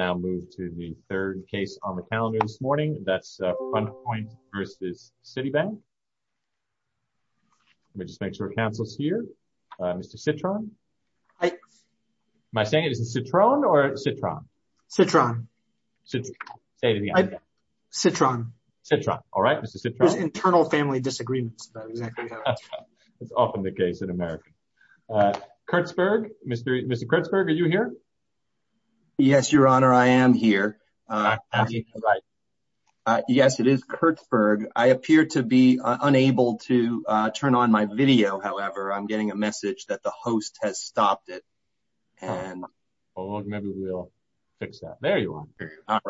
4303 Citibank, N.A. 4346 I am here, yes it is Kurtzberg, I appear to be unable to turn on my video, however I'm getting a message that the host has stopped it. Or maybe we'll fix that, there you are.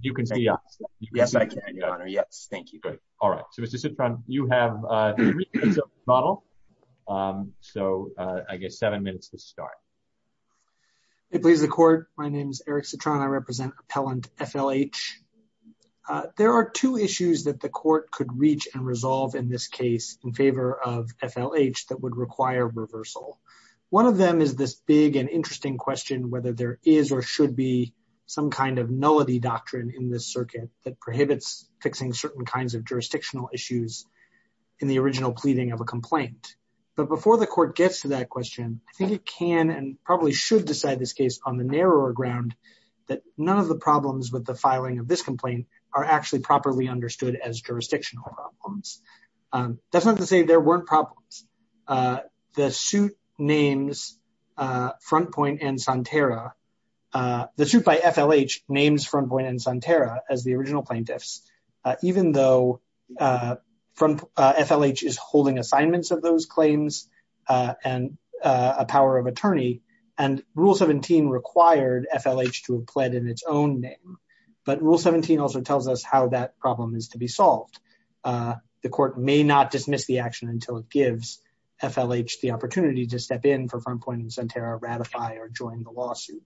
You can see us. Yes I can your honor, yes, thank you. Alright, so Mr. Citron, you have three minutes to model, so I guess seven minutes to start. It pleases the court, my name is Eric Citron, I represent appellant FLH. There are two issues that the court could reach and resolve in this case in favor of FLH that would require reversal. One of them is this big and interesting question whether there is or should be some kind of nullity doctrine in this circuit that prohibits fixing certain kinds of jurisdictional issues in the original pleading of a complaint. But before the court gets to that question, I think it can and probably should decide this case on the narrower ground that none of the problems with the filing of this complaint are actually properly understood as jurisdictional problems. That's not to say there weren't problems. The suit names Frontpoint and Santerra, the suit by FLH names Frontpoint and Santerra as the original plaintiffs, even though FLH is holding assignments of those claims and a power of attorney, and Rule 17 required FLH to have pled in its own name. But Rule 17 also tells us how that problem is to be solved. The court may not dismiss the action until it gives FLH the opportunity to step in for Frontpoint and Santerra, ratify or join the lawsuit.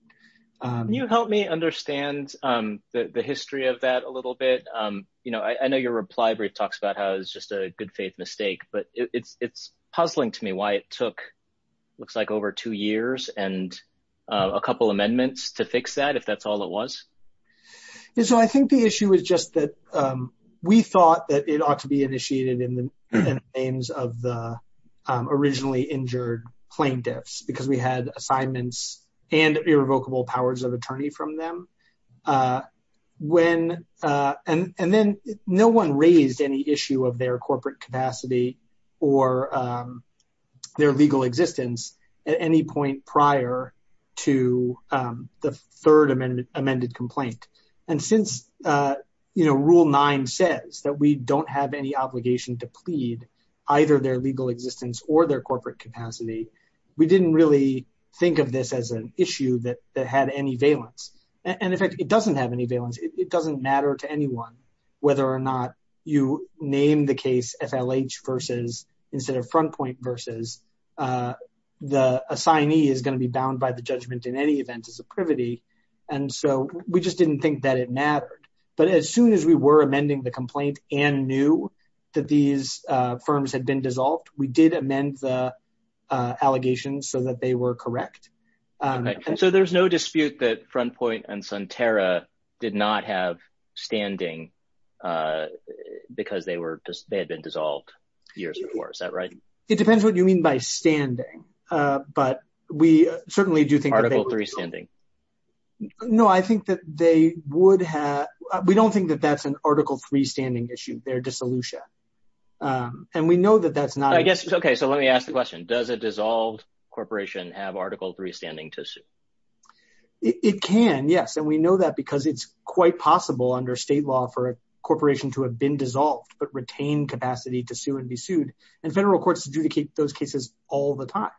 Can you help me understand the history of that a little bit? I know your reply brief talks about how it was just a good faith mistake, but it's puzzling to me why it took, looks like over two years and a couple amendments to fix that, if that's all it was. So I think the issue is just that we thought that it ought to be initiated in the names of the originally injured plaintiffs because we had assignments and irrevocable powers of attorney from them. And then no one raised any issue of their corporate capacity or their legal existence at any point prior to the third amended complaint. And since Rule 9 says that we don't have any obligation to plead either their legal existence or their corporate capacity, we didn't really think of this as an issue that had any valence. And in fact, it doesn't have any valence. It doesn't matter to anyone whether or not you name the case FLH versus, instead of Frontpoint versus, the assignee is going to be bound by the judgment in any event as a privity. And so we just didn't think that it mattered. But as soon as we were amending the complaint and knew that these firms had been dissolved, we did amend the allegations so that they were correct. So there's no dispute that Frontpoint and Sunterra did not have standing because they were, they had been dissolved years before, is that right? It depends what you mean by standing. But we certainly do think that they were- No, I think that they would have, we don't think that that's an Article III standing issue, their dissolution. And we know that that's not- I guess, okay, so let me ask the question. Does a dissolved corporation have Article III standing to sue? It can, yes. And we know that because it's quite possible under state law for a corporation to have been dissolved but retain capacity to sue and be sued. And federal courts adjudicate those cases all the time.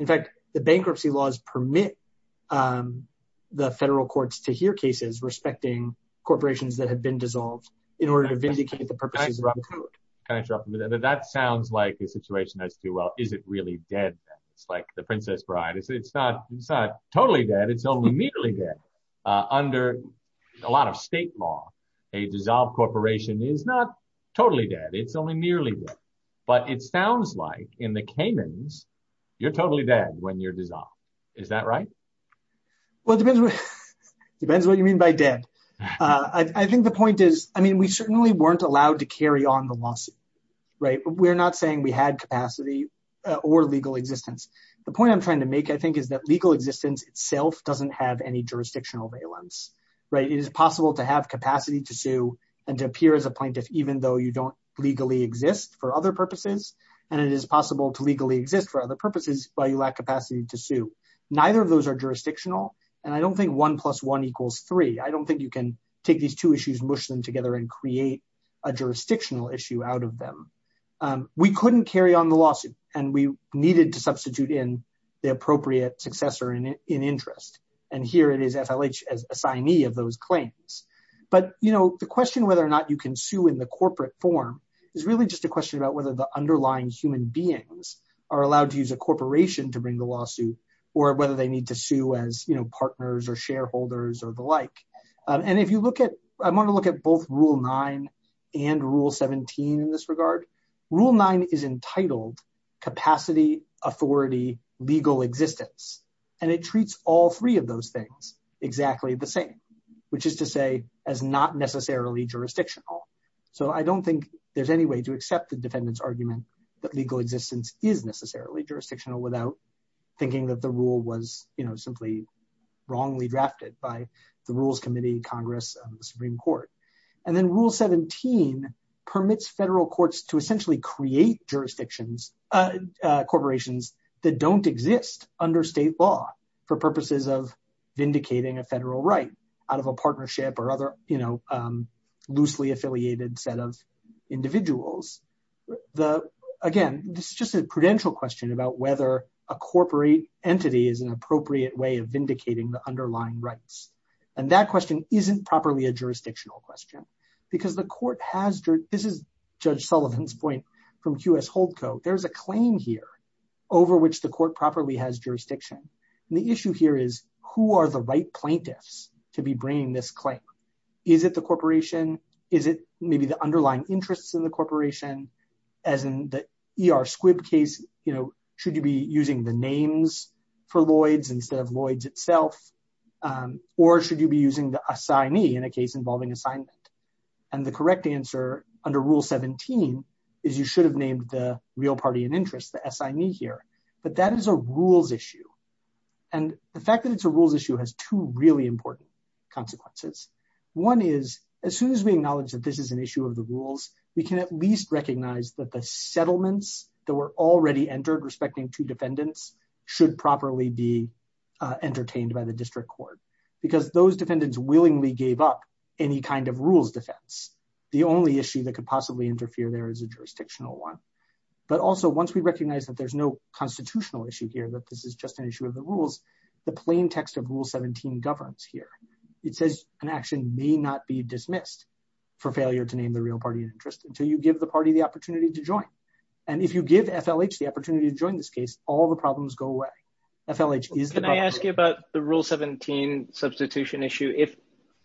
In fact, the bankruptcy laws permit the federal courts to hear cases respecting corporations that have been dissolved in order to vindicate the purposes of the code. Can I interrupt a minute? That sounds like a situation that's too, well, is it really dead then? It's like the Princess Bride, it's not totally dead, it's only merely dead. Under a lot of state law, a dissolved corporation is not totally dead, it's only merely dead. But it sounds like in the canons, you're totally dead when you're dissolved. Is that right? Well, it depends what you mean by dead. I think the point is, I mean, we certainly weren't allowed to carry on the lawsuit, right? We're not saying we had capacity or legal existence. The point I'm trying to make, I think, is that legal existence itself doesn't have any jurisdictional valence, right? It is possible to have capacity to sue and to appear as a plaintiff even though you don't legally exist for other purposes, and it is possible to legally exist for other purposes while you lack capacity to sue. Neither of those are jurisdictional, and I don't think one plus one equals three. I don't think you can take these two issues, mush them together, and create a jurisdictional issue out of them. We couldn't carry on the lawsuit, and we needed to substitute in the appropriate successor in interest, and here it is, FLH, as assignee of those claims. But, you know, the question whether or not you can sue in the corporate form is really just a question about whether the underlying human beings are allowed to use a corporation to bring the lawsuit or whether they need to sue as, you know, partners or shareholders or the like. And if you look at, I want to look at both Rule 9 and Rule 17 in this regard. Rule 9 is entitled capacity, authority, legal existence, and it treats all three of those things exactly the same, which is to say as not necessarily jurisdictional. So I don't think there's any way to accept the defendant's argument that legal existence is necessarily jurisdictional without thinking that the rule was, you know, simply wrongly drafted by the Rules Committee, Congress, and the Supreme Court. And then Rule 17 permits federal courts to essentially create jurisdictions, corporations that don't exist under state law for purposes of vindicating a federal right out of a partnership or other, you know, loosely affiliated set of individuals. The, again, this is just a prudential question about whether a corporate entity is an appropriate way of vindicating the underlying rights. And that question isn't properly a jurisdictional question because the court has, this is Judge over which the court properly has jurisdiction. The issue here is who are the right plaintiffs to be bringing this claim? Is it the corporation? Is it maybe the underlying interests in the corporation? As in the E.R. Squibb case, you know, should you be using the names for Lloyd's instead of Lloyd's itself? Or should you be using the assignee in a case involving assignment? And the correct answer under Rule 17 is you should have named the real party in interest, the assignee here, but that is a rules issue. And the fact that it's a rules issue has two really important consequences. One is as soon as we acknowledge that this is an issue of the rules, we can at least recognize that the settlements that were already entered respecting two defendants should properly be entertained by the district court because those defendants willingly gave up any kind of rules defense. The only issue that could possibly interfere there is a jurisdictional one. But also once we recognize that there's no constitutional issue here, that this is just an issue of the rules, the plain text of Rule 17 governs here. It says an action may not be dismissed for failure to name the real party in interest until you give the party the opportunity to join. And if you give FLH the opportunity to join this case, all the problems go away. FLH is the- Can I ask you about the Rule 17 substitution issue?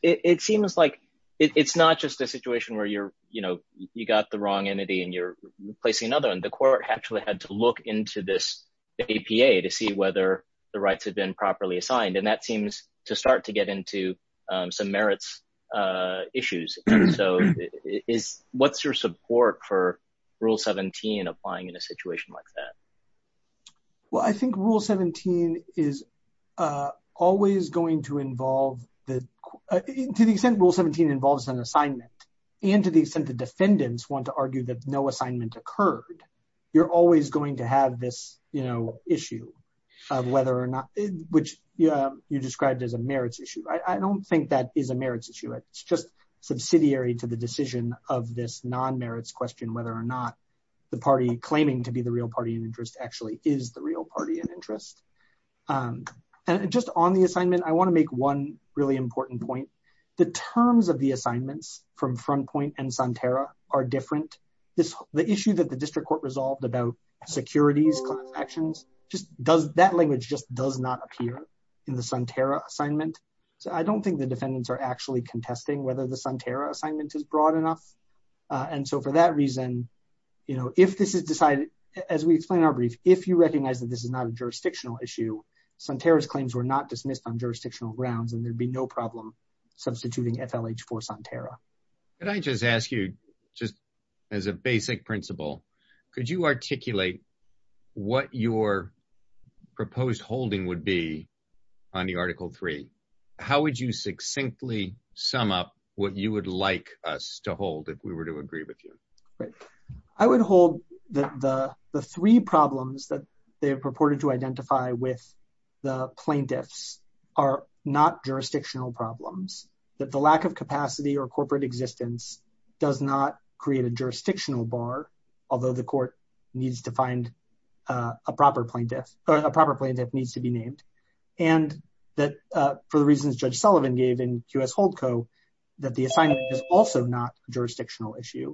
It seems like it's not just a situation where you're, you know, you got the wrong entity and you're replacing another one. The court actually had to look into this APA to see whether the rights had been properly assigned. And that seems to start to get into some merits issues. So what's your support for Rule 17 applying in a situation like that? Well, I think Rule 17 is always going to involve the- to the extent Rule 17 involves an assignment and to the extent the defendants want to argue that no assignment occurred, you're always going to have this, you know, issue of whether or not- which you described as a merits issue. I don't think that is a merits issue. It's just subsidiary to the decision of this non-merits question whether or not the party claiming to be the real party in interest actually is the real party in interest. And just on the assignment, I want to make one really important point. The terms of the assignments from Frontpoint and Sonterra are different. This- the issue that the district court resolved about securities class actions just does- that language just does not appear in the Sonterra assignment. So I don't think the defendants are actually contesting whether the Sonterra assignment is broad enough. And so for that reason, you know, if this is decided, as we explained in our brief, if you recognize that this is not a jurisdictional issue, Sonterra's claims were not dismissed on jurisdictional grounds and there'd be no problem. Substituting FLH for Sonterra. Could I just ask you, just as a basic principle, could you articulate what your proposed holding would be on the Article 3? How would you succinctly sum up what you would like us to hold if we were to agree with you? Right. I would hold that the three problems that they have purported to identify with the plaintiffs are not jurisdictional problems. That the lack of capacity or corporate existence does not create a jurisdictional bar, although the court needs to find a proper plaintiff- a proper plaintiff needs to be named. And that for the reasons Judge Sullivan gave in QS Holdco, that the assignment is also not a jurisdictional issue.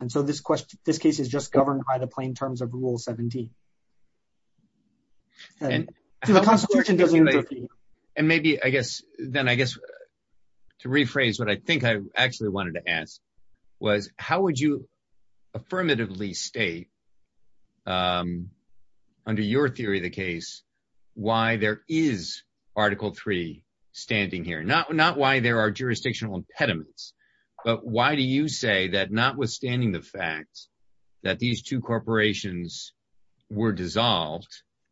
And so this question- this case is just governed by the plain terms of Rule 17. And maybe, I guess, then I guess to rephrase what I think I actually wanted to ask was how would you affirmatively state, under your theory of the case, why there is Article 3 standing here? Not why there are jurisdictional impediments, but why do you say that notwithstanding the that these two corporations were dissolved,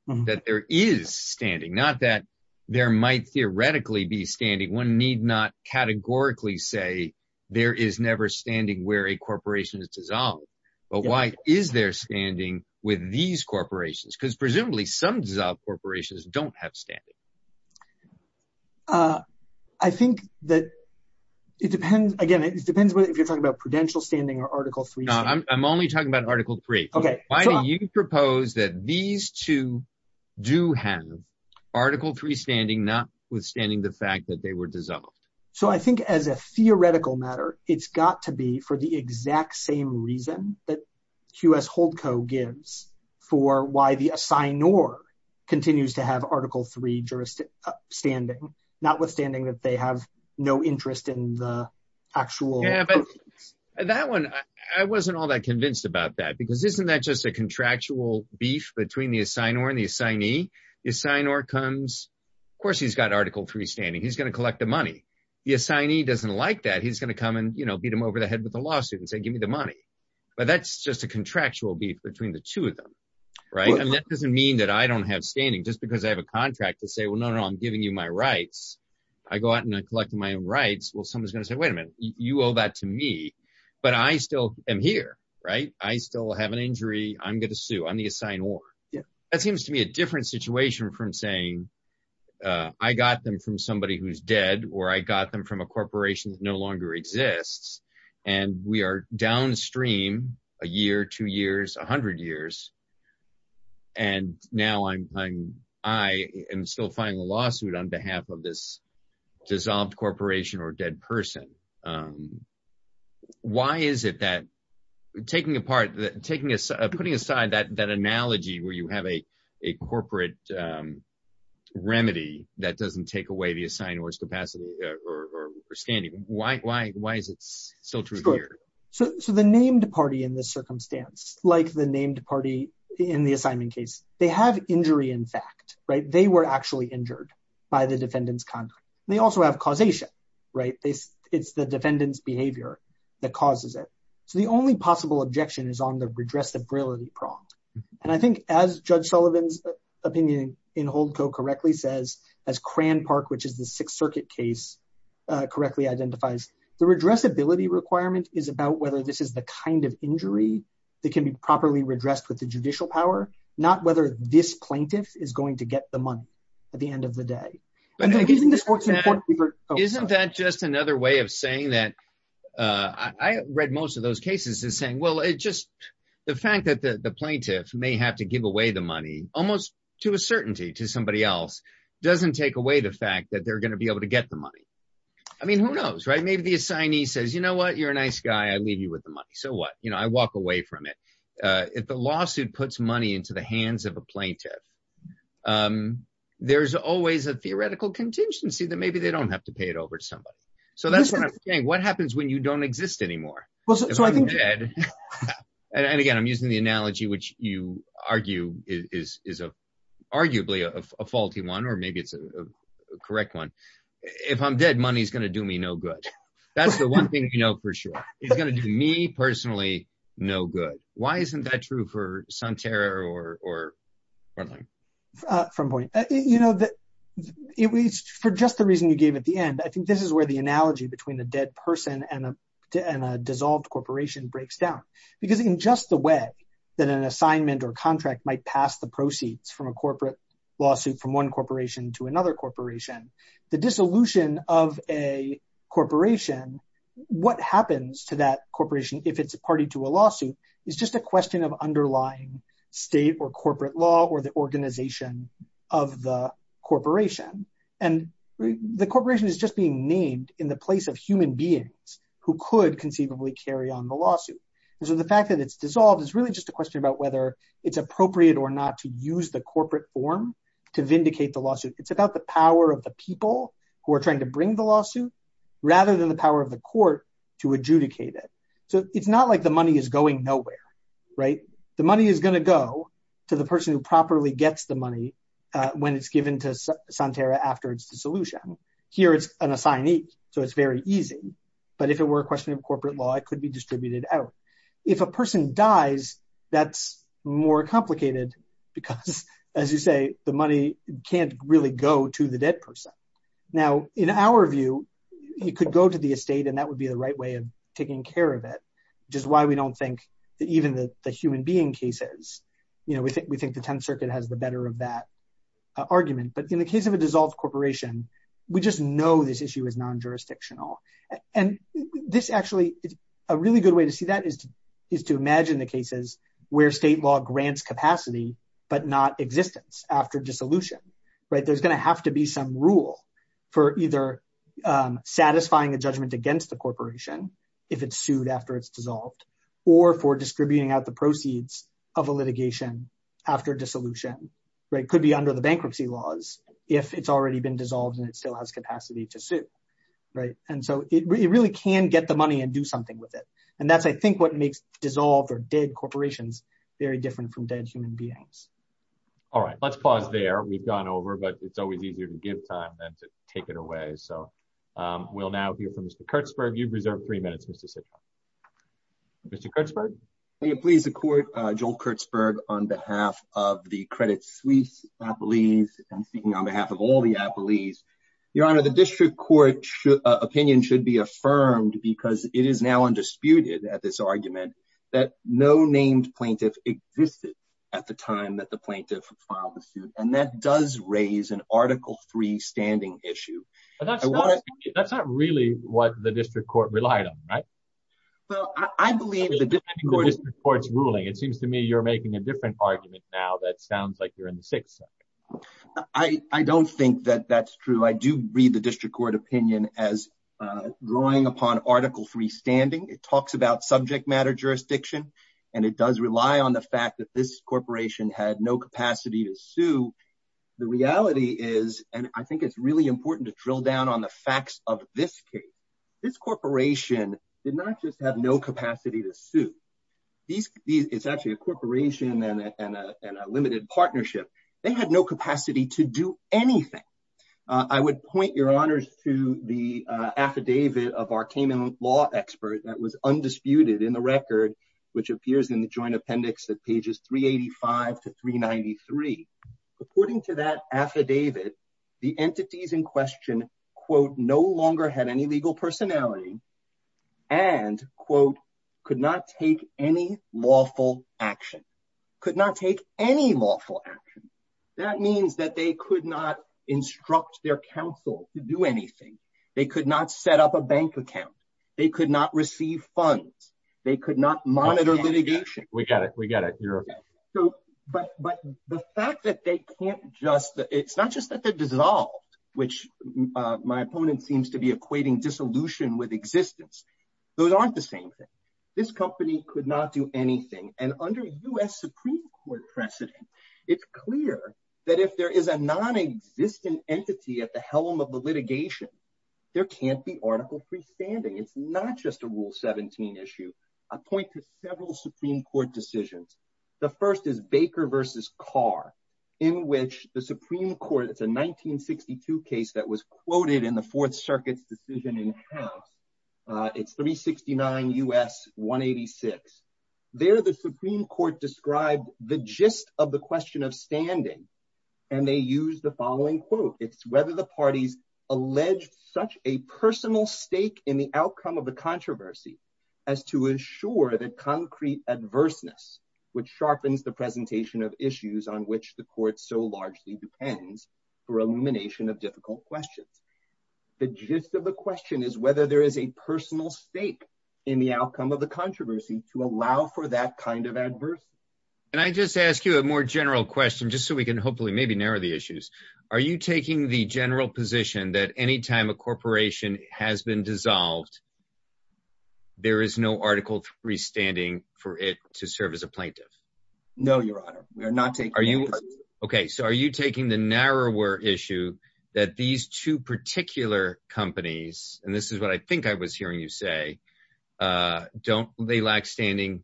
that there is standing? Not that there might theoretically be standing. One need not categorically say there is never standing where a corporation is dissolved. But why is there standing with these corporations? Because presumably some dissolved corporations don't have standing. I think that it depends, again, it depends if you're talking about prudential standing or Article 3 standing. I'm only talking about Article 3. Why do you propose that these two do have Article 3 standing, notwithstanding the fact that they were dissolved? So I think as a theoretical matter, it's got to be for the exact same reason that QS Holdco gives for why the assignor continues to have Article 3 standing, notwithstanding that they have no interest in the actual corporations. That one, I wasn't all that convinced about that, because isn't that just a contractual beef between the assignor and the assignee? The assignor comes, of course, he's got Article 3 standing. He's going to collect the money. The assignee doesn't like that. He's going to come and beat him over the head with a lawsuit and say, give me the money. But that's just a contractual beef between the two of them, right? And that doesn't mean that I don't have standing just because I have a contract to say, well, no, no, I'm giving you my rights. I go out and I collect my own rights. Well, someone's going to say, wait a minute, you owe that to me. But I still am here, right? I still have an injury. I'm going to sue. I'm the assignor. That seems to me a different situation from saying I got them from somebody who's dead or I got them from a corporation that no longer exists. And we are downstream a year, two years, 100 years. And now I am still filing a lawsuit on behalf of this dissolved corporation or dead person. Why is it that taking apart, putting aside that analogy where you have a corporate remedy that doesn't take away the assignor's capacity or standing, why is it still true here? So the named party in this circumstance, like the named party in the assignment case, they have injury in fact, right? They were actually injured by the defendant's conduct. They also have causation, right? It's the defendant's behavior that causes it. So the only possible objection is on the redressability prong. And I think as Judge Sullivan's opinion in Holdco correctly says, as Cran Park, which is the Sixth Circuit case correctly identifies, the redressability requirement is about whether this is the kind of injury that can be properly redressed with the judicial power, not whether this plaintiff is going to get the money at the end of the day. Isn't that just another way of saying that? I read most of those cases as saying, well, it's just the fact that the plaintiff may have to give away the money almost to a certainty to somebody else, doesn't take away the fact that they're going to be able to get the money. I mean, who knows, right? Maybe the assignee says, you know what? You're a nice guy. I leave you with the money. So what? I walk away from it. If the lawsuit puts money into the hands of a plaintiff, there's always a theoretical contingency that maybe they don't have to pay it over to somebody. So that's what I'm saying. What happens when you don't exist anymore? And again, I'm using the analogy, which you argue is arguably a faulty one, or maybe it's a correct one. If I'm dead, money is going to do me no good. That's the one thing you know for sure. It's going to do me, personally, no good. Why isn't that true for Santerra or Portland? From a point of view, for just the reason you gave at the end, I think this is where the analogy between a dead person and a dissolved corporation breaks down. Because in just the way that an assignment or contract might pass the proceeds from a corporate lawsuit from one corporation to another corporation, the dissolution of a corporation, what happens to that corporation if it's a party to a lawsuit, is just a question of underlying state or corporate law or the organization of the corporation. And the corporation is just being named in the place of human beings who could conceivably carry on the lawsuit. So the fact that it's dissolved is really just a question about whether it's appropriate or not to use the corporate form to vindicate the lawsuit. It's about the power of the people who are trying to bring the lawsuit, rather than the power of the court to adjudicate it. So it's not like the money is going nowhere, right? The money is going to go to the person who properly gets the money when it's given to Santerra after its dissolution. Here, it's an assignee. So it's very easy. But if it were a question of corporate law, it could be distributed out. If a person dies, that's more complicated. Because as you say, the money can't really go to the dead person. Now, in our view, it could go to the estate. And that would be the right way of taking care of it, which is why we don't think that even the human being cases, we think the 10th Circuit has the better of that argument. But in the case of a dissolved corporation, we just know this issue is non-jurisdictional. And this actually, a really good way to see that is to imagine the cases where state law grants capacity, but not existence after dissolution, right? There's going to have to be some rule for either satisfying a judgment against the corporation if it's sued after it's dissolved, or for distributing out the proceeds of a litigation after dissolution, right? Could be under the bankruptcy laws if it's already been dissolved and it still has capacity to sue, right? And so it really can get the money and do something with it. And that's, I think, what makes dissolved or dead corporations very different from dead human beings. All right, let's pause there. We've gone over, but it's always easier to give time than to take it away. So we'll now hear from Mr. Kurtzberg. You've reserved three minutes, Mr. Citron. Mr. Kurtzberg? May it please the Court, Joel Kurtzberg, on behalf of the Credit Suisse Appellees, and speaking on behalf of all the appellees. Your Honor, the district court opinion should be affirmed because it is now undisputed at this argument that no named plaintiff existed at the time that the plaintiff filed the suit. And that does raise an Article III standing issue. That's not really what the district court relied on, right? Well, I believe the district court is ruling. It seems to me you're making a different argument now that sounds like you're in the Sixth Circuit. I don't think that that's true. I do read the district court opinion as drawing upon Article III standing. It talks about subject matter jurisdiction, and it does rely on the fact that this corporation had no capacity to sue. The reality is, and I think it's really important to drill down on the facts of this case. This corporation did not just have no capacity to sue. It's actually a corporation and a limited partnership. They had no capacity to do anything. I would point your honors to the affidavit of our Cayman law expert that was undisputed in the record, which appears in the joint appendix at pages 385 to 393. According to that affidavit, the entities in question, quote, no longer had any legal personality, and, quote, could not take any lawful action. Could not take any lawful action. That means that they could not instruct their counsel to do anything. They could not set up a bank account. They could not receive funds. They could not monitor litigation. We got it. We got it. But the fact that they can't just, it's not just that they're dissolved, which my opponent seems to be equating dissolution with existence. Those aren't the same thing. This company could not do anything, and under US Supreme Court precedent, it's clear that if there is a non-existent entity at the helm of the litigation, there can't be article freestanding. It's not just a Rule 17 issue. I point to several Supreme Court decisions. The first is Baker v. Carr, in which the Supreme Court, it's a 1962 case that was quoted in the Fourth Circuit's decision in the House. It's 369 U.S. 186. There, the Supreme Court described the gist of the question of standing, and they use the following quote. It's whether the parties alleged such a personal stake in the outcome of the controversy as to ensure that concrete adverseness, which sharpens the presentation of issues on which the court so largely depends for elimination of difficult questions. The gist of the question is whether there is a personal stake in the outcome of the controversy to allow for that kind of adversity. And I just ask you a more general question, just so we can hopefully maybe narrow the issues. Are you taking the general position that anytime a corporation has been dissolved, there is no article freestanding for it to serve as a plaintiff? No, Your Honor. We are not taking that position. Okay, so are you taking the narrower issue that these two particular companies, and this is what I think I was hearing you say, don't they lack standing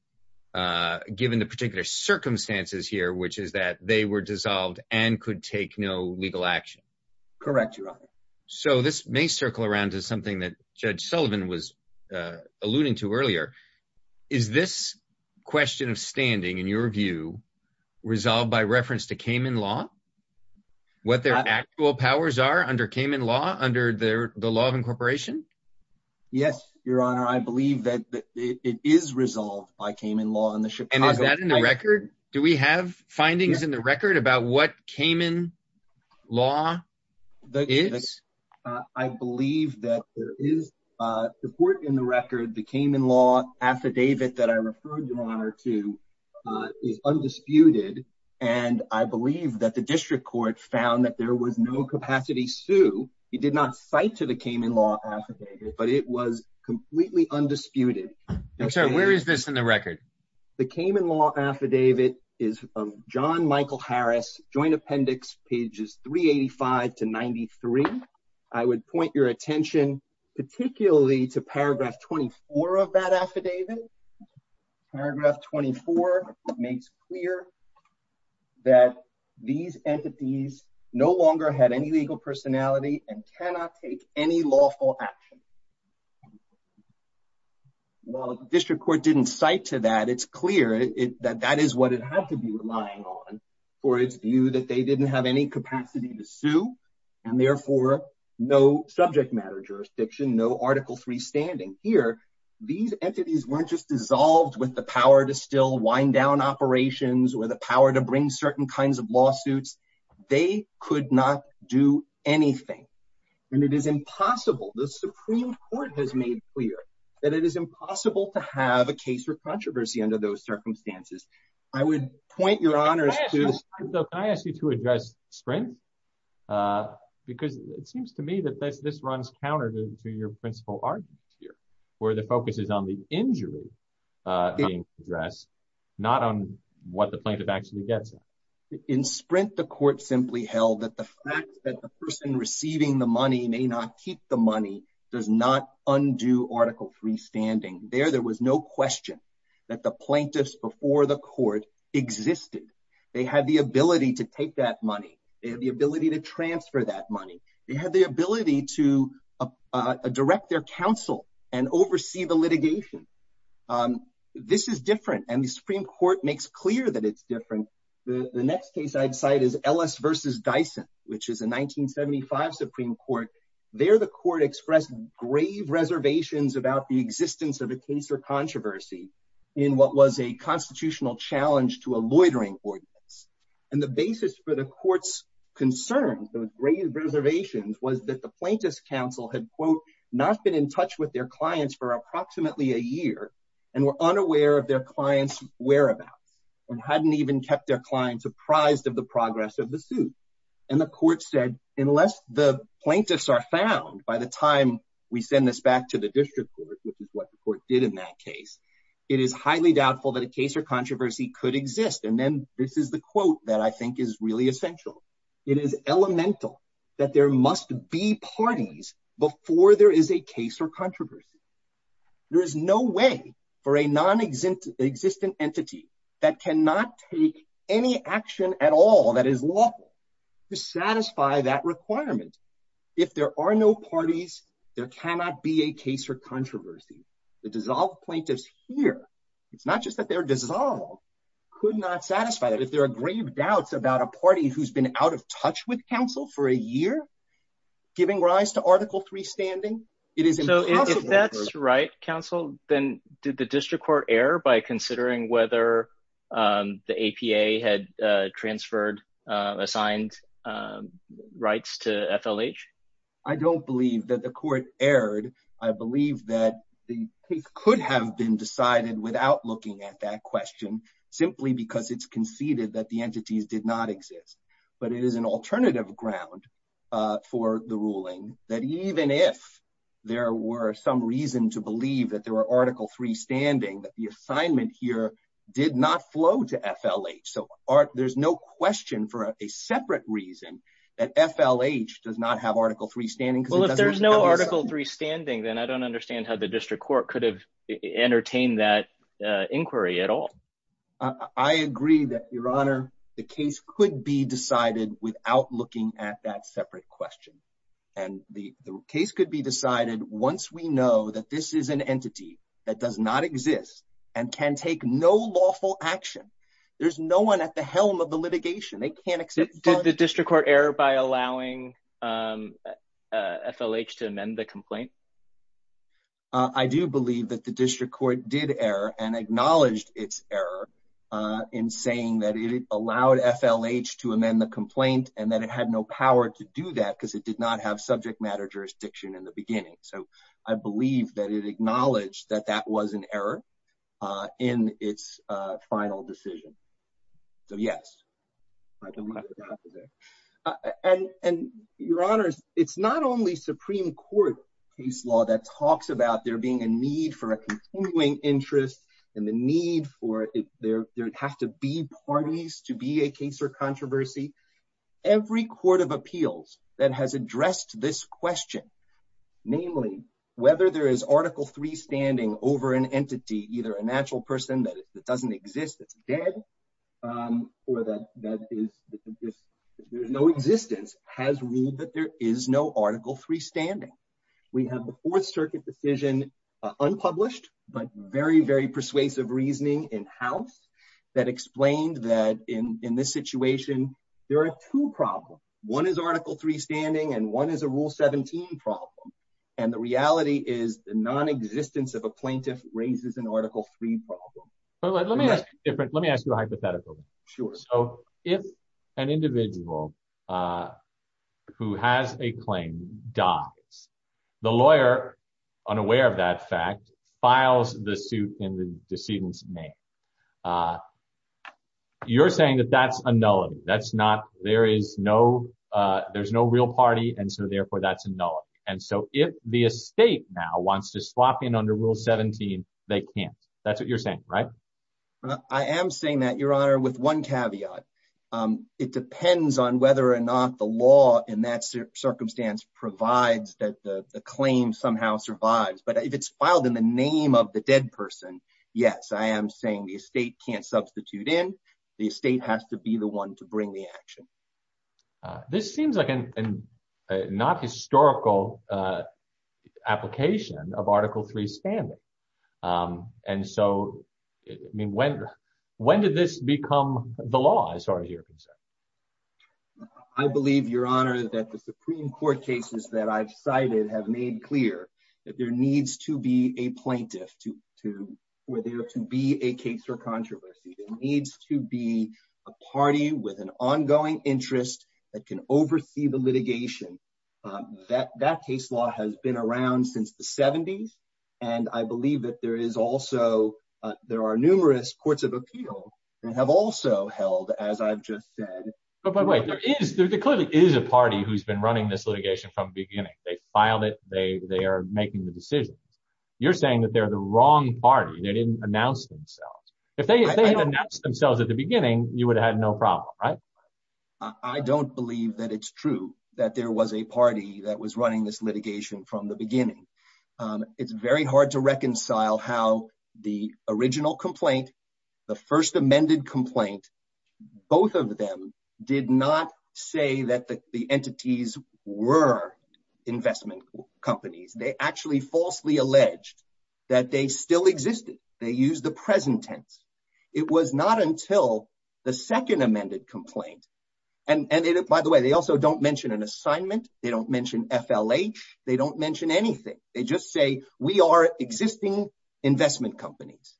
given the particular circumstances here, which is that they were dissolved and could take no legal action? Correct, Your Honor. So this may circle around to something that Judge Sullivan was alluding to earlier. Is this question of standing, in your view, resolved by reference to Cayman law? What their actual powers are under Cayman law, under the law of incorporation? Yes, Your Honor. I believe that it is resolved by Cayman law. And is that in the record? Do we have findings in the record about what Cayman law is? I believe that there is support in the record. The Cayman law affidavit that I referred, Your Honor, to is undisputed. And I believe that the district court found that there was no capacity to sue. He did not cite to the Cayman law affidavit, but it was completely undisputed. I'm sorry, where is this in the record? The Cayman law affidavit is of John Michael Harris, joint appendix pages 385 to 93. I would point your attention particularly to paragraph 24 of that affidavit. Paragraph 24 makes clear that these entities no longer had any legal personality and cannot take any lawful action. While the district court didn't cite to that, it's clear that that is what it had to be relying on for its view that they didn't have any capacity to sue. And therefore, no subject matter jurisdiction, no Article III standing. Here, these entities weren't just dissolved with the power to still wind down operations or the power to bring certain kinds of lawsuits. They could not do anything. And it is impossible. The Supreme Court has made clear that it is impossible to have a case for controversy under those circumstances. I would point your honors to- Can I ask you to address strength? Because it seems to me that this runs counter to your principle arguments here. The focus is on the injury being addressed, not on what the plaintiff actually gets. In Sprint, the court simply held that the fact that the person receiving the money may not keep the money does not undo Article III standing. There, there was no question that the plaintiffs before the court existed. They had the ability to take that money. They had the ability to transfer that money. They had the ability to direct their counsel and oversee the litigation. This is different. And the Supreme Court makes clear that it's different. The next case I'd cite is Ellis v. Dyson, which is a 1975 Supreme Court. There, the court expressed grave reservations about the existence of a case or controversy in what was a constitutional challenge to a loitering ordinance. And the basis for the court's concerns, those grave reservations, was that the plaintiff's counsel had, quote, not been in touch with their clients for approximately a year and were unaware of their clients' whereabouts and hadn't even kept their clients apprised of the progress of the suit. And the court said, unless the plaintiffs are found by the time we send this back to the district court, which is what the court did in that case, it is highly doubtful that a case or controversy could exist. And then this is the quote that I think is really essential. It is elemental that there must be parties before there is a case or controversy. There is no way for a nonexistent entity that cannot take any action at all that is lawful to satisfy that requirement. If there are no parties, there cannot be a case or controversy. The dissolved plaintiffs here, it's not just that they're dissolved, could not satisfy that. If there are grave doubts about a party who's been out of touch with counsel for a year, giving rise to Article III standing, it is impossible. So if that's right, counsel, then did the district court error by considering whether the APA had transferred assigned rights to FLH? I don't believe that the court erred. I believe that the case could have been decided without looking at that question. Simply because it's conceded that the entities did not exist. But it is an alternative ground for the ruling that even if there were some reason to believe that there were Article III standing, that the assignment here did not flow to FLH. So there's no question for a separate reason that FLH does not have Article III standing. Well, if there's no Article III standing, then I don't understand how the district court could have entertained that inquiry at all. I agree that, Your Honor, the case could be decided without looking at that separate question. And the case could be decided once we know that this is an entity that does not exist and can take no lawful action. There's no one at the helm of the litigation. They can't accept- Did the district court error by allowing FLH to amend the complaint? I do believe that the district court did error and acknowledged its error in saying that it allowed FLH to amend the complaint and that it had no power to do that because it did not have subject matter jurisdiction in the beginning. So I believe that it acknowledged that that was an error in its final decision. So, yes. I don't know what happened there. And, Your Honors, it's not only Supreme Court case law that talks about there being a need for a continuing interest and the need for there have to be parties to be a case or controversy. Every court of appeals that has addressed this question, namely, whether there is Article III standing over an entity, either a natural person that doesn't exist, that's dead, or that there's no existence, has ruled that there is no Article III standing. We have the Fourth Circuit decision, unpublished, but very, very persuasive reasoning in-house that explained that in this situation, there are two problems. One is Article III standing and one is a Rule 17 problem. And the reality is the non-existence of a plaintiff raises an Article III problem. Let me ask you a hypothetical. Sure. So if an individual who has a claim dies, the lawyer, unaware of that fact, files the suit in the decedent's name. You're saying that that's a nullity. There's no real party, and so, therefore, that's a nullity. And so if the estate now wants to swap in under Rule 17, they can't. That's what you're saying, right? I am saying that, Your Honor, with one caveat. It depends on whether or not the law in that circumstance provides that the claim somehow survives. But if it's filed in the name of the dead person, yes, I am saying the estate can't substitute in. The estate has to be the one to bring the action. This seems like a not historical application of Article III standing. And so, I mean, when did this become the law? I'm sorry to hear what you said. I believe, Your Honor, that the Supreme Court cases that I've cited have made clear that there needs to be a plaintiff where there to be a case for controversy. There needs to be a party with an ongoing interest that can oversee the litigation. That case law has been around since the 70s. And I believe that there is also, there are numerous courts of appeal that have also held, as I've just said. But wait, there clearly is a party who's been running this litigation from the beginning. They filed it. They are making the decisions. You're saying that they're the wrong party. They didn't announce themselves. If they had announced themselves at the beginning, you would have had no problem, right? I don't believe that it's true that there was a party that was running this litigation from the beginning. It's very hard to reconcile how the original complaint, the first amended complaint, both of them did not say that the entities were investment companies. They actually falsely alleged that they still existed. They used the present tense. It was not until the second amended complaint. And by the way, they also don't mention an assignment. They don't mention FLH. They don't mention anything. They just say, we are existing investment companies.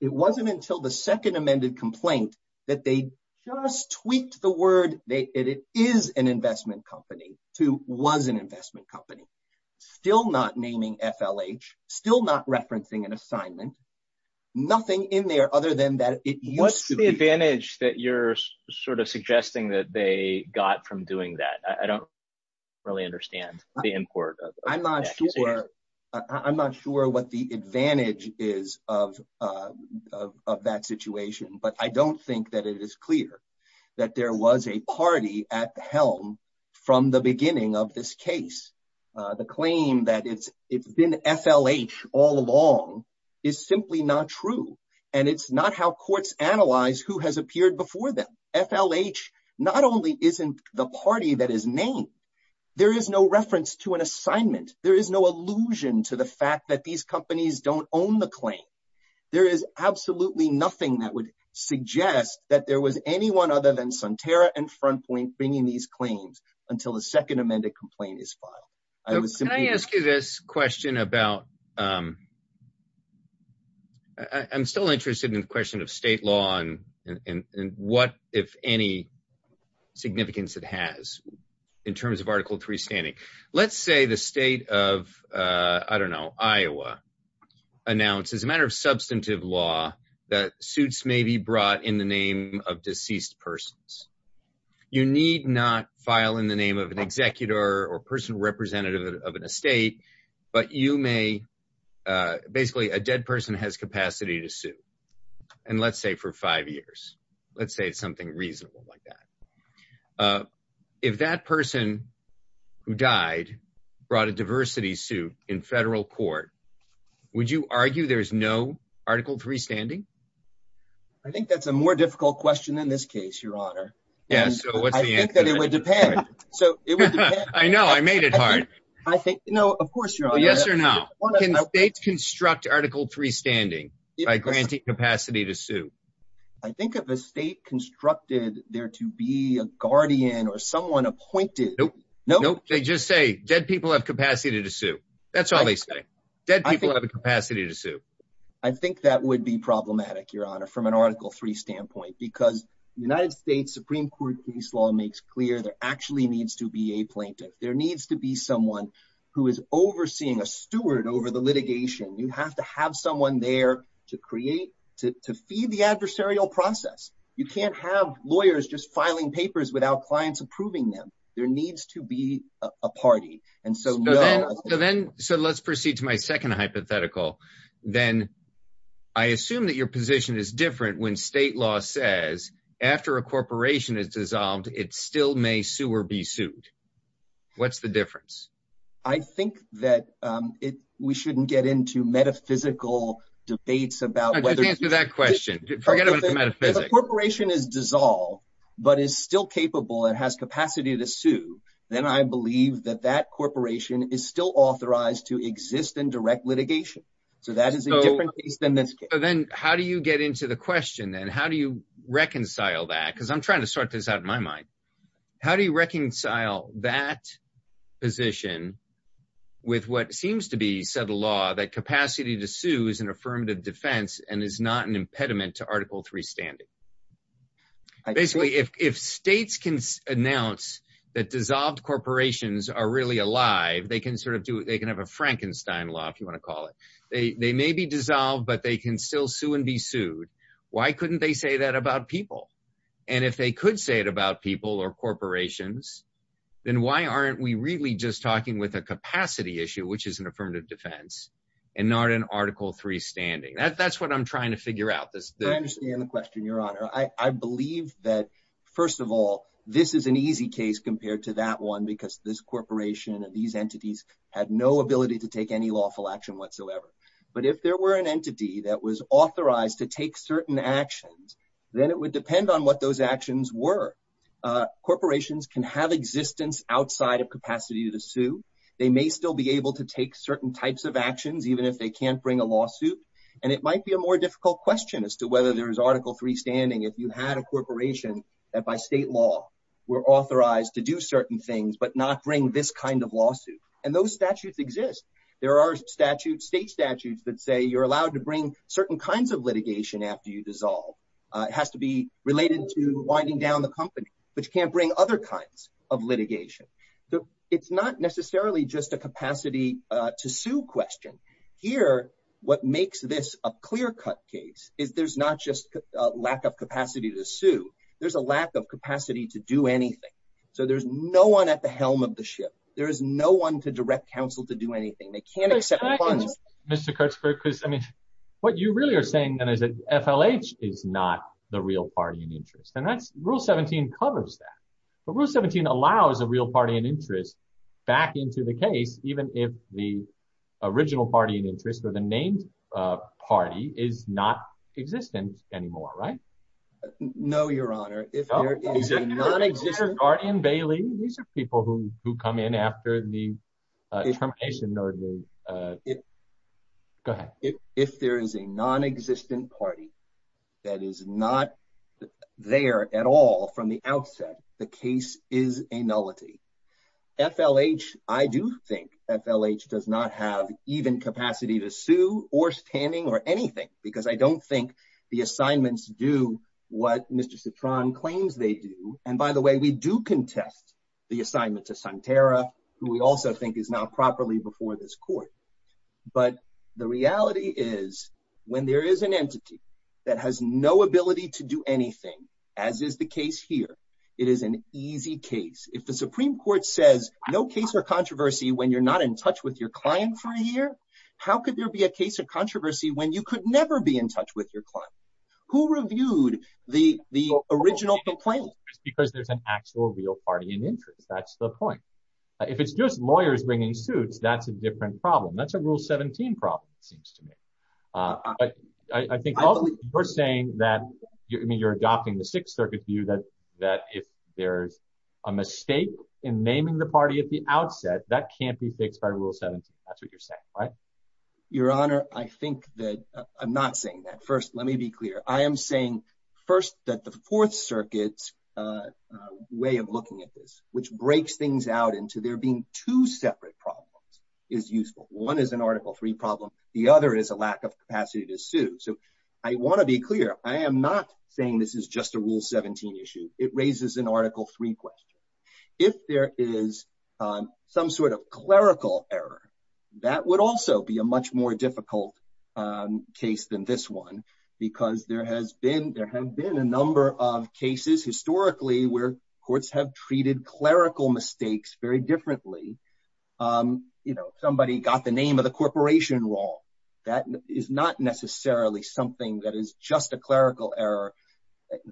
It wasn't until the second amended complaint that they just tweaked the word. That it is an investment company to was an investment company. Still not naming FLH. Still not referencing an assignment. Nothing in there other than that. What's the advantage that you're sort of suggesting that they got from doing that? I don't really understand the import. I'm not sure what the advantage is of that situation. But I don't think that it is clear that there was a party at the helm from the beginning of this case. The claim that it's been FLH all along is simply not true. And it's not how courts analyze who has appeared before them. FLH not only isn't the party that is named. There is no reference to an assignment. There is no allusion to the fact that these companies don't own the claim. There is absolutely nothing that would suggest that there was anyone other than Sunterra and Frontpoint bringing these claims until the second amended complaint is filed. Can I ask you this question about... I'm still interested in the question of state law and what, if any, significance it has in terms of Article III standing. Let's say the state of, I don't know, Iowa, announces a matter of substantive law that suits may be brought in the name of deceased persons. You need not file in the name of an executor or person representative of an estate. But you may... Basically, a dead person has capacity to sue. And let's say for five years. Let's say it's something reasonable like that. If that person who died brought a diversity suit in federal court, would you argue there's no Article III standing? I think that's a more difficult question in this case, Your Honor. Yeah, so what's the answer? I think that it would depend. So it would depend. I know, I made it hard. I think... No, of course, Your Honor. Yes or no. Can states construct Article III standing by granting capacity to sue? I think if a state constructed there to be a guardian or someone appointed... Nope. Nope. They just say dead people have capacity to sue. That's all they say. Dead people have a capacity to sue. I think that would be problematic, Your Honor, from an Article III standpoint, because the United States Supreme Court case law makes clear there actually needs to be a plaintiff. There needs to be someone who is overseeing a steward over the litigation. You have to have someone there to create, to feed the adversarial process. You can't have lawyers just filing papers without clients approving them. There needs to be a party. And so... So let's proceed to my second hypothetical. Then I assume that your position is different when state law says after a corporation is dissolved, it still may sue or be sued. What's the difference? I think that we shouldn't get into metaphysical debates about whether... Just answer that question. Forget about the metaphysics. If a corporation is dissolved, but is still capable and has capacity to sue, then I believe that that corporation is still authorized to exist in direct litigation. So that is a different case than this case. Then how do you get into the question then? How do you reconcile that? Because I'm trying to sort this out in my mind. How do you reconcile that position with what seems to be said law, that capacity to sue is an affirmative defense and is not an impediment to Article 3 standing? Basically, if states can announce that dissolved corporations are really alive, they can sort of do it. They can have a Frankenstein law, if you want to call it. They may be dissolved, but they can still sue and be sued. Why couldn't they say that about people? And if they could say it about people or corporations, then why aren't we really just talking with a capacity issue, which is an affirmative defense and not an Article 3 standing? That's what I'm trying to figure out. I understand the question, Your Honor. I believe that, first of all, this is an easy case compared to that one, because this corporation and these entities had no ability to take any lawful action whatsoever. But if there were an entity that was authorized to take certain actions, then it would depend on what those actions were. Corporations can have existence outside of capacity to sue. They may still be able to take certain types of actions, even if they can't bring a lawsuit. And it might be a more difficult question as to whether there is Article 3 standing if you had a corporation that, by state law, were authorized to do certain things but not bring this kind of lawsuit. And those statutes exist. There are state statutes that say you're allowed to bring certain kinds of litigation after you dissolve. It has to be related to winding down the company, but you can't bring other kinds of litigation. So it's not necessarily just a capacity-to-sue question. Here, what makes this a clear-cut case is there's not just a lack of capacity to sue. There's a lack of capacity to do anything. So there's no one at the helm of the ship. There is no one to direct counsel to do anything. They can't accept funds. Mr. Kurtzberg, because, I mean, what you really are saying, then, is that FLH is not the real party in interest. And that's—Rule 17 covers that. But Rule 17 allows a real party in interest back into the case, even if the original party in interest or the named party is not existent anymore, right? No, Your Honor. If there is a non-existent party in Bailey, these are people who come in after the termination of the—go ahead. If there is a non-existent party that is not there at all from the outset, the case is a nullity. FLH, I do think FLH does not have even capacity to sue or standing or anything, because I don't think the assignments do what Mr. Citron claims they do. And by the way, we do contest the assignment to Santera, who we also think is not properly before this court. But the reality is, when there is an entity that has no ability to do anything, as is the case here, it is an easy case. If the Supreme Court says no case or controversy when you're not in touch with your client for a year, how could there be a case of controversy when you could never be in touch with your client? Who reviewed the original complaint? It's because there's an actual real party in interest. That's the point. If it's just lawyers bringing suits, that's a different problem. That's a Rule 17 problem, it seems to me. But I think you're saying that—I mean, you're adopting the Sixth Circuit view that if there's a mistake in naming the party at the outset, that can't be fixed by Rule 17. That's what you're saying, right? Your Honor, I think that—I'm not saying that. First, let me be clear. I am saying, first, that the Fourth Circuit's way of looking at this, which breaks things out into there being two separate problems, is useful. One is an Article III problem. The other is a lack of capacity to sue. So I want to be clear. I am not saying this is just a Rule 17 issue. It raises an Article III question. If there is some sort of clerical error, that would also be a much more difficult case than this one because there have been a number of cases historically where courts have treated clerical mistakes very differently. You know, somebody got the name of the corporation wrong. That is not necessarily something that is just a clerical error.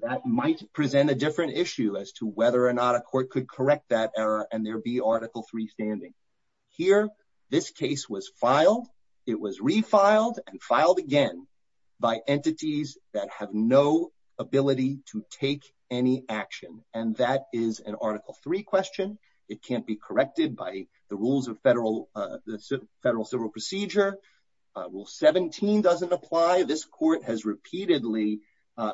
That might present a different issue as to whether or not a court could correct that error and there be Article III standing. Here, this case was filed. It was refiled and filed again by entities that have no ability to take any action. And that is an Article III question. It can't be corrected by the rules of federal civil procedure. Rule 17 doesn't apply. This court has repeatedly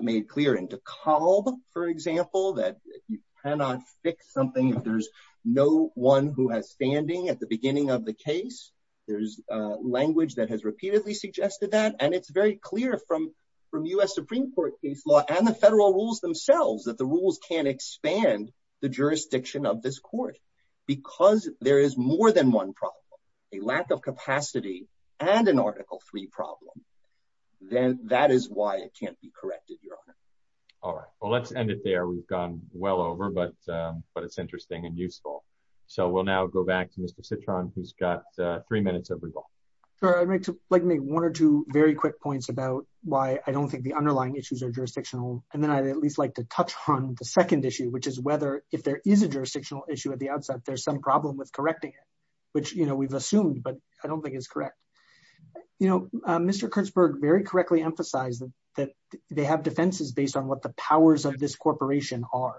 made clear in DeKalb, for example, that you cannot fix something if there's no one who has standing at the beginning of the case. There's language that has repeatedly suggested that. And it's very clear from U.S. Supreme Court case law and the federal rules themselves that the rules can't expand the jurisdiction of this court. Because there is more than one problem, a lack of capacity and an Article III problem, then that is why it can't be corrected, Your Honor. All right. Well, let's end it there. We've gone well over, but it's interesting and useful. So we'll now go back to Mr. Citron, who's got three minutes of revolve. Sure. I'd like to make one or two very quick points about why I don't think the underlying issues are jurisdictional. And then I'd at least like to touch on the second issue, which is whether if there is a jurisdictional issue at the outset, there's some problem with correcting it, which, you know, we've assumed, but I don't think it's correct. You know, Mr. Kurtzberg very correctly emphasized that they have defenses based on what the powers of this corporation are.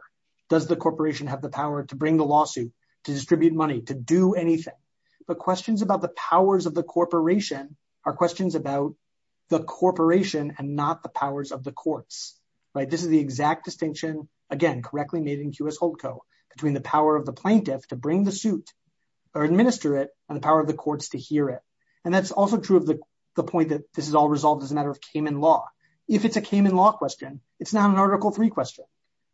Does the corporation have the power to bring the lawsuit, to distribute money, to do anything? But questions about the powers of the corporation are questions about the corporation and not the powers of the courts. Right. This is the exact distinction, again, correctly made in QS HOLTCO, between the power of the plaintiff to bring the suit or administer it and the power of the courts to hear it. And that's also true of the point that this is all resolved as a matter of Cayman law. If it's a Cayman law question, it's not an Article III question,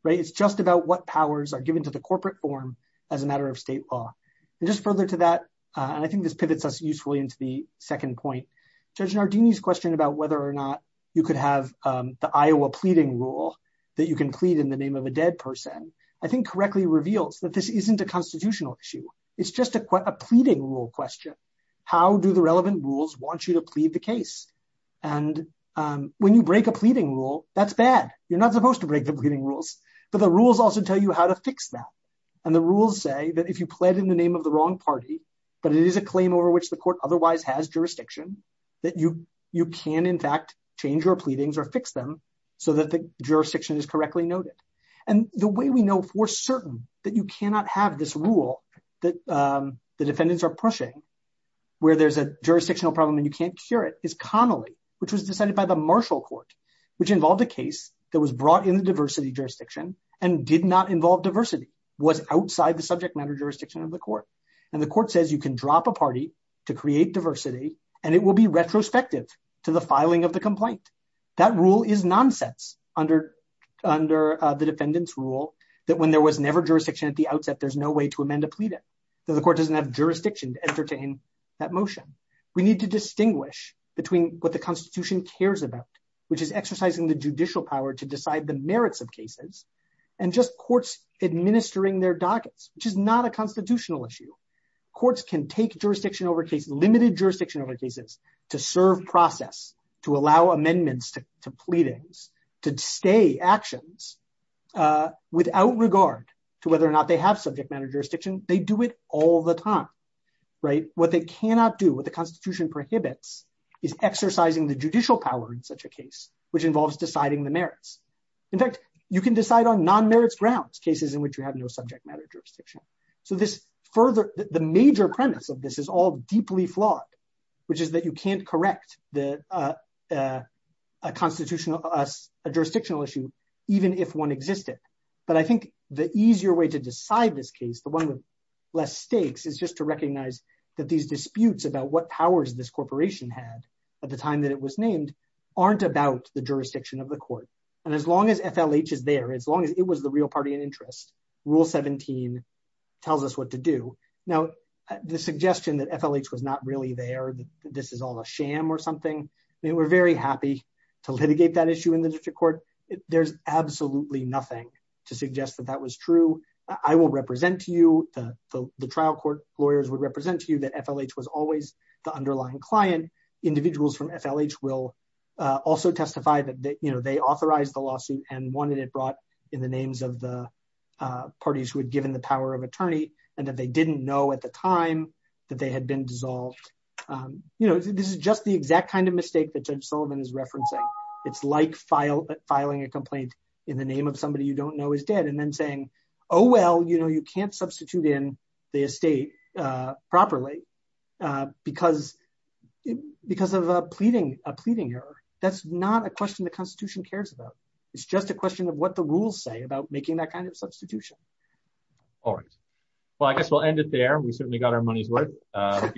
right? It's just about what powers are given to the corporate form as a matter of state law. And just further to that, and I think this pivots us usefully into the second point, Judge Nardini's question about whether or not you could have the Iowa pleading rule that you can plead in the name of a dead person, I think correctly reveals that this isn't a constitutional issue. It's just a pleading rule question. How do the relevant rules want you to plead the case? And when you break a pleading rule, that's bad. You're not supposed to break the pleading rules. But the rules also tell you how to fix that. And the rules say that if you plead in the name of the wrong party, but it is a claim over which the court otherwise has jurisdiction, that you can, in fact, change your pleadings or fix them so that the jurisdiction is correctly noted. And the way we know for certain that you cannot have this rule that the defendants are pushing, where there's a jurisdictional problem and you can't cure it, is Connolly, which was decided by the Marshall Court, which involved a case that was brought in the diversity jurisdiction and did not involve diversity, was outside the subject matter jurisdiction of the court. And the court says you can drop a party to create diversity, and it will be retrospective to the filing of the complaint. That rule is nonsense under the defendant's rule that when there was never jurisdiction at the outset, there's no way to amend a pleading. The court doesn't have jurisdiction to entertain that motion. We need to distinguish between what the Constitution cares about, which is exercising the judicial power to decide the merits of cases, and just courts administering their dockets, which is not a constitutional issue. Courts can take jurisdiction over cases, limited jurisdiction over cases to serve process, to allow amendments to pleadings, to stay actions without regard to whether or not they have subject matter jurisdiction. They do it all the time, right? What they cannot do, what the Constitution prohibits is exercising the judicial power in such a case, which involves deciding the merits. In fact, you can decide on non-merits grounds, cases in which you have no subject matter jurisdiction. So the major premise of this is all deeply flawed, which is that you can't correct a jurisdictional issue, even if one existed. But I think the easier way to decide this case, the one with less stakes, is just to recognize that these disputes about what powers this corporation had at the time that it was named aren't about the jurisdiction of the court. And as long as FLH is there, as long as it was the real party in interest, Rule 17 tells us what to do. Now, the suggestion that FLH was not really there, this is all a sham or something, I mean, we're very happy to litigate that issue in the district court. There's absolutely nothing to suggest that that was true. I will represent you, the trial court lawyers would represent you that FLH was always the underlying client. Individuals from FLH will also testify that they authorized the lawsuit and wanted it brought in the names of the parties who had given the power of attorney and that they didn't know at the time that they had been dissolved. This is just the exact kind of mistake that Judge Sullivan is referencing. It's like filing a complaint in the name of somebody you don't know is dead and then saying, oh, well, you can't substitute in the estate properly because of a pleading error. That's not a question the constitution cares about. It's just a question of what the rules say about making that kind of substitution. All right. Well, I guess we'll end it there. We certainly got our money's worth. So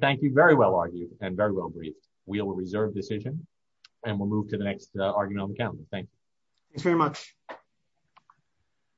thank you very well argued and very well briefed. We will reserve decision and we'll move to the next argument on the calendar. Thank you. Thanks very much.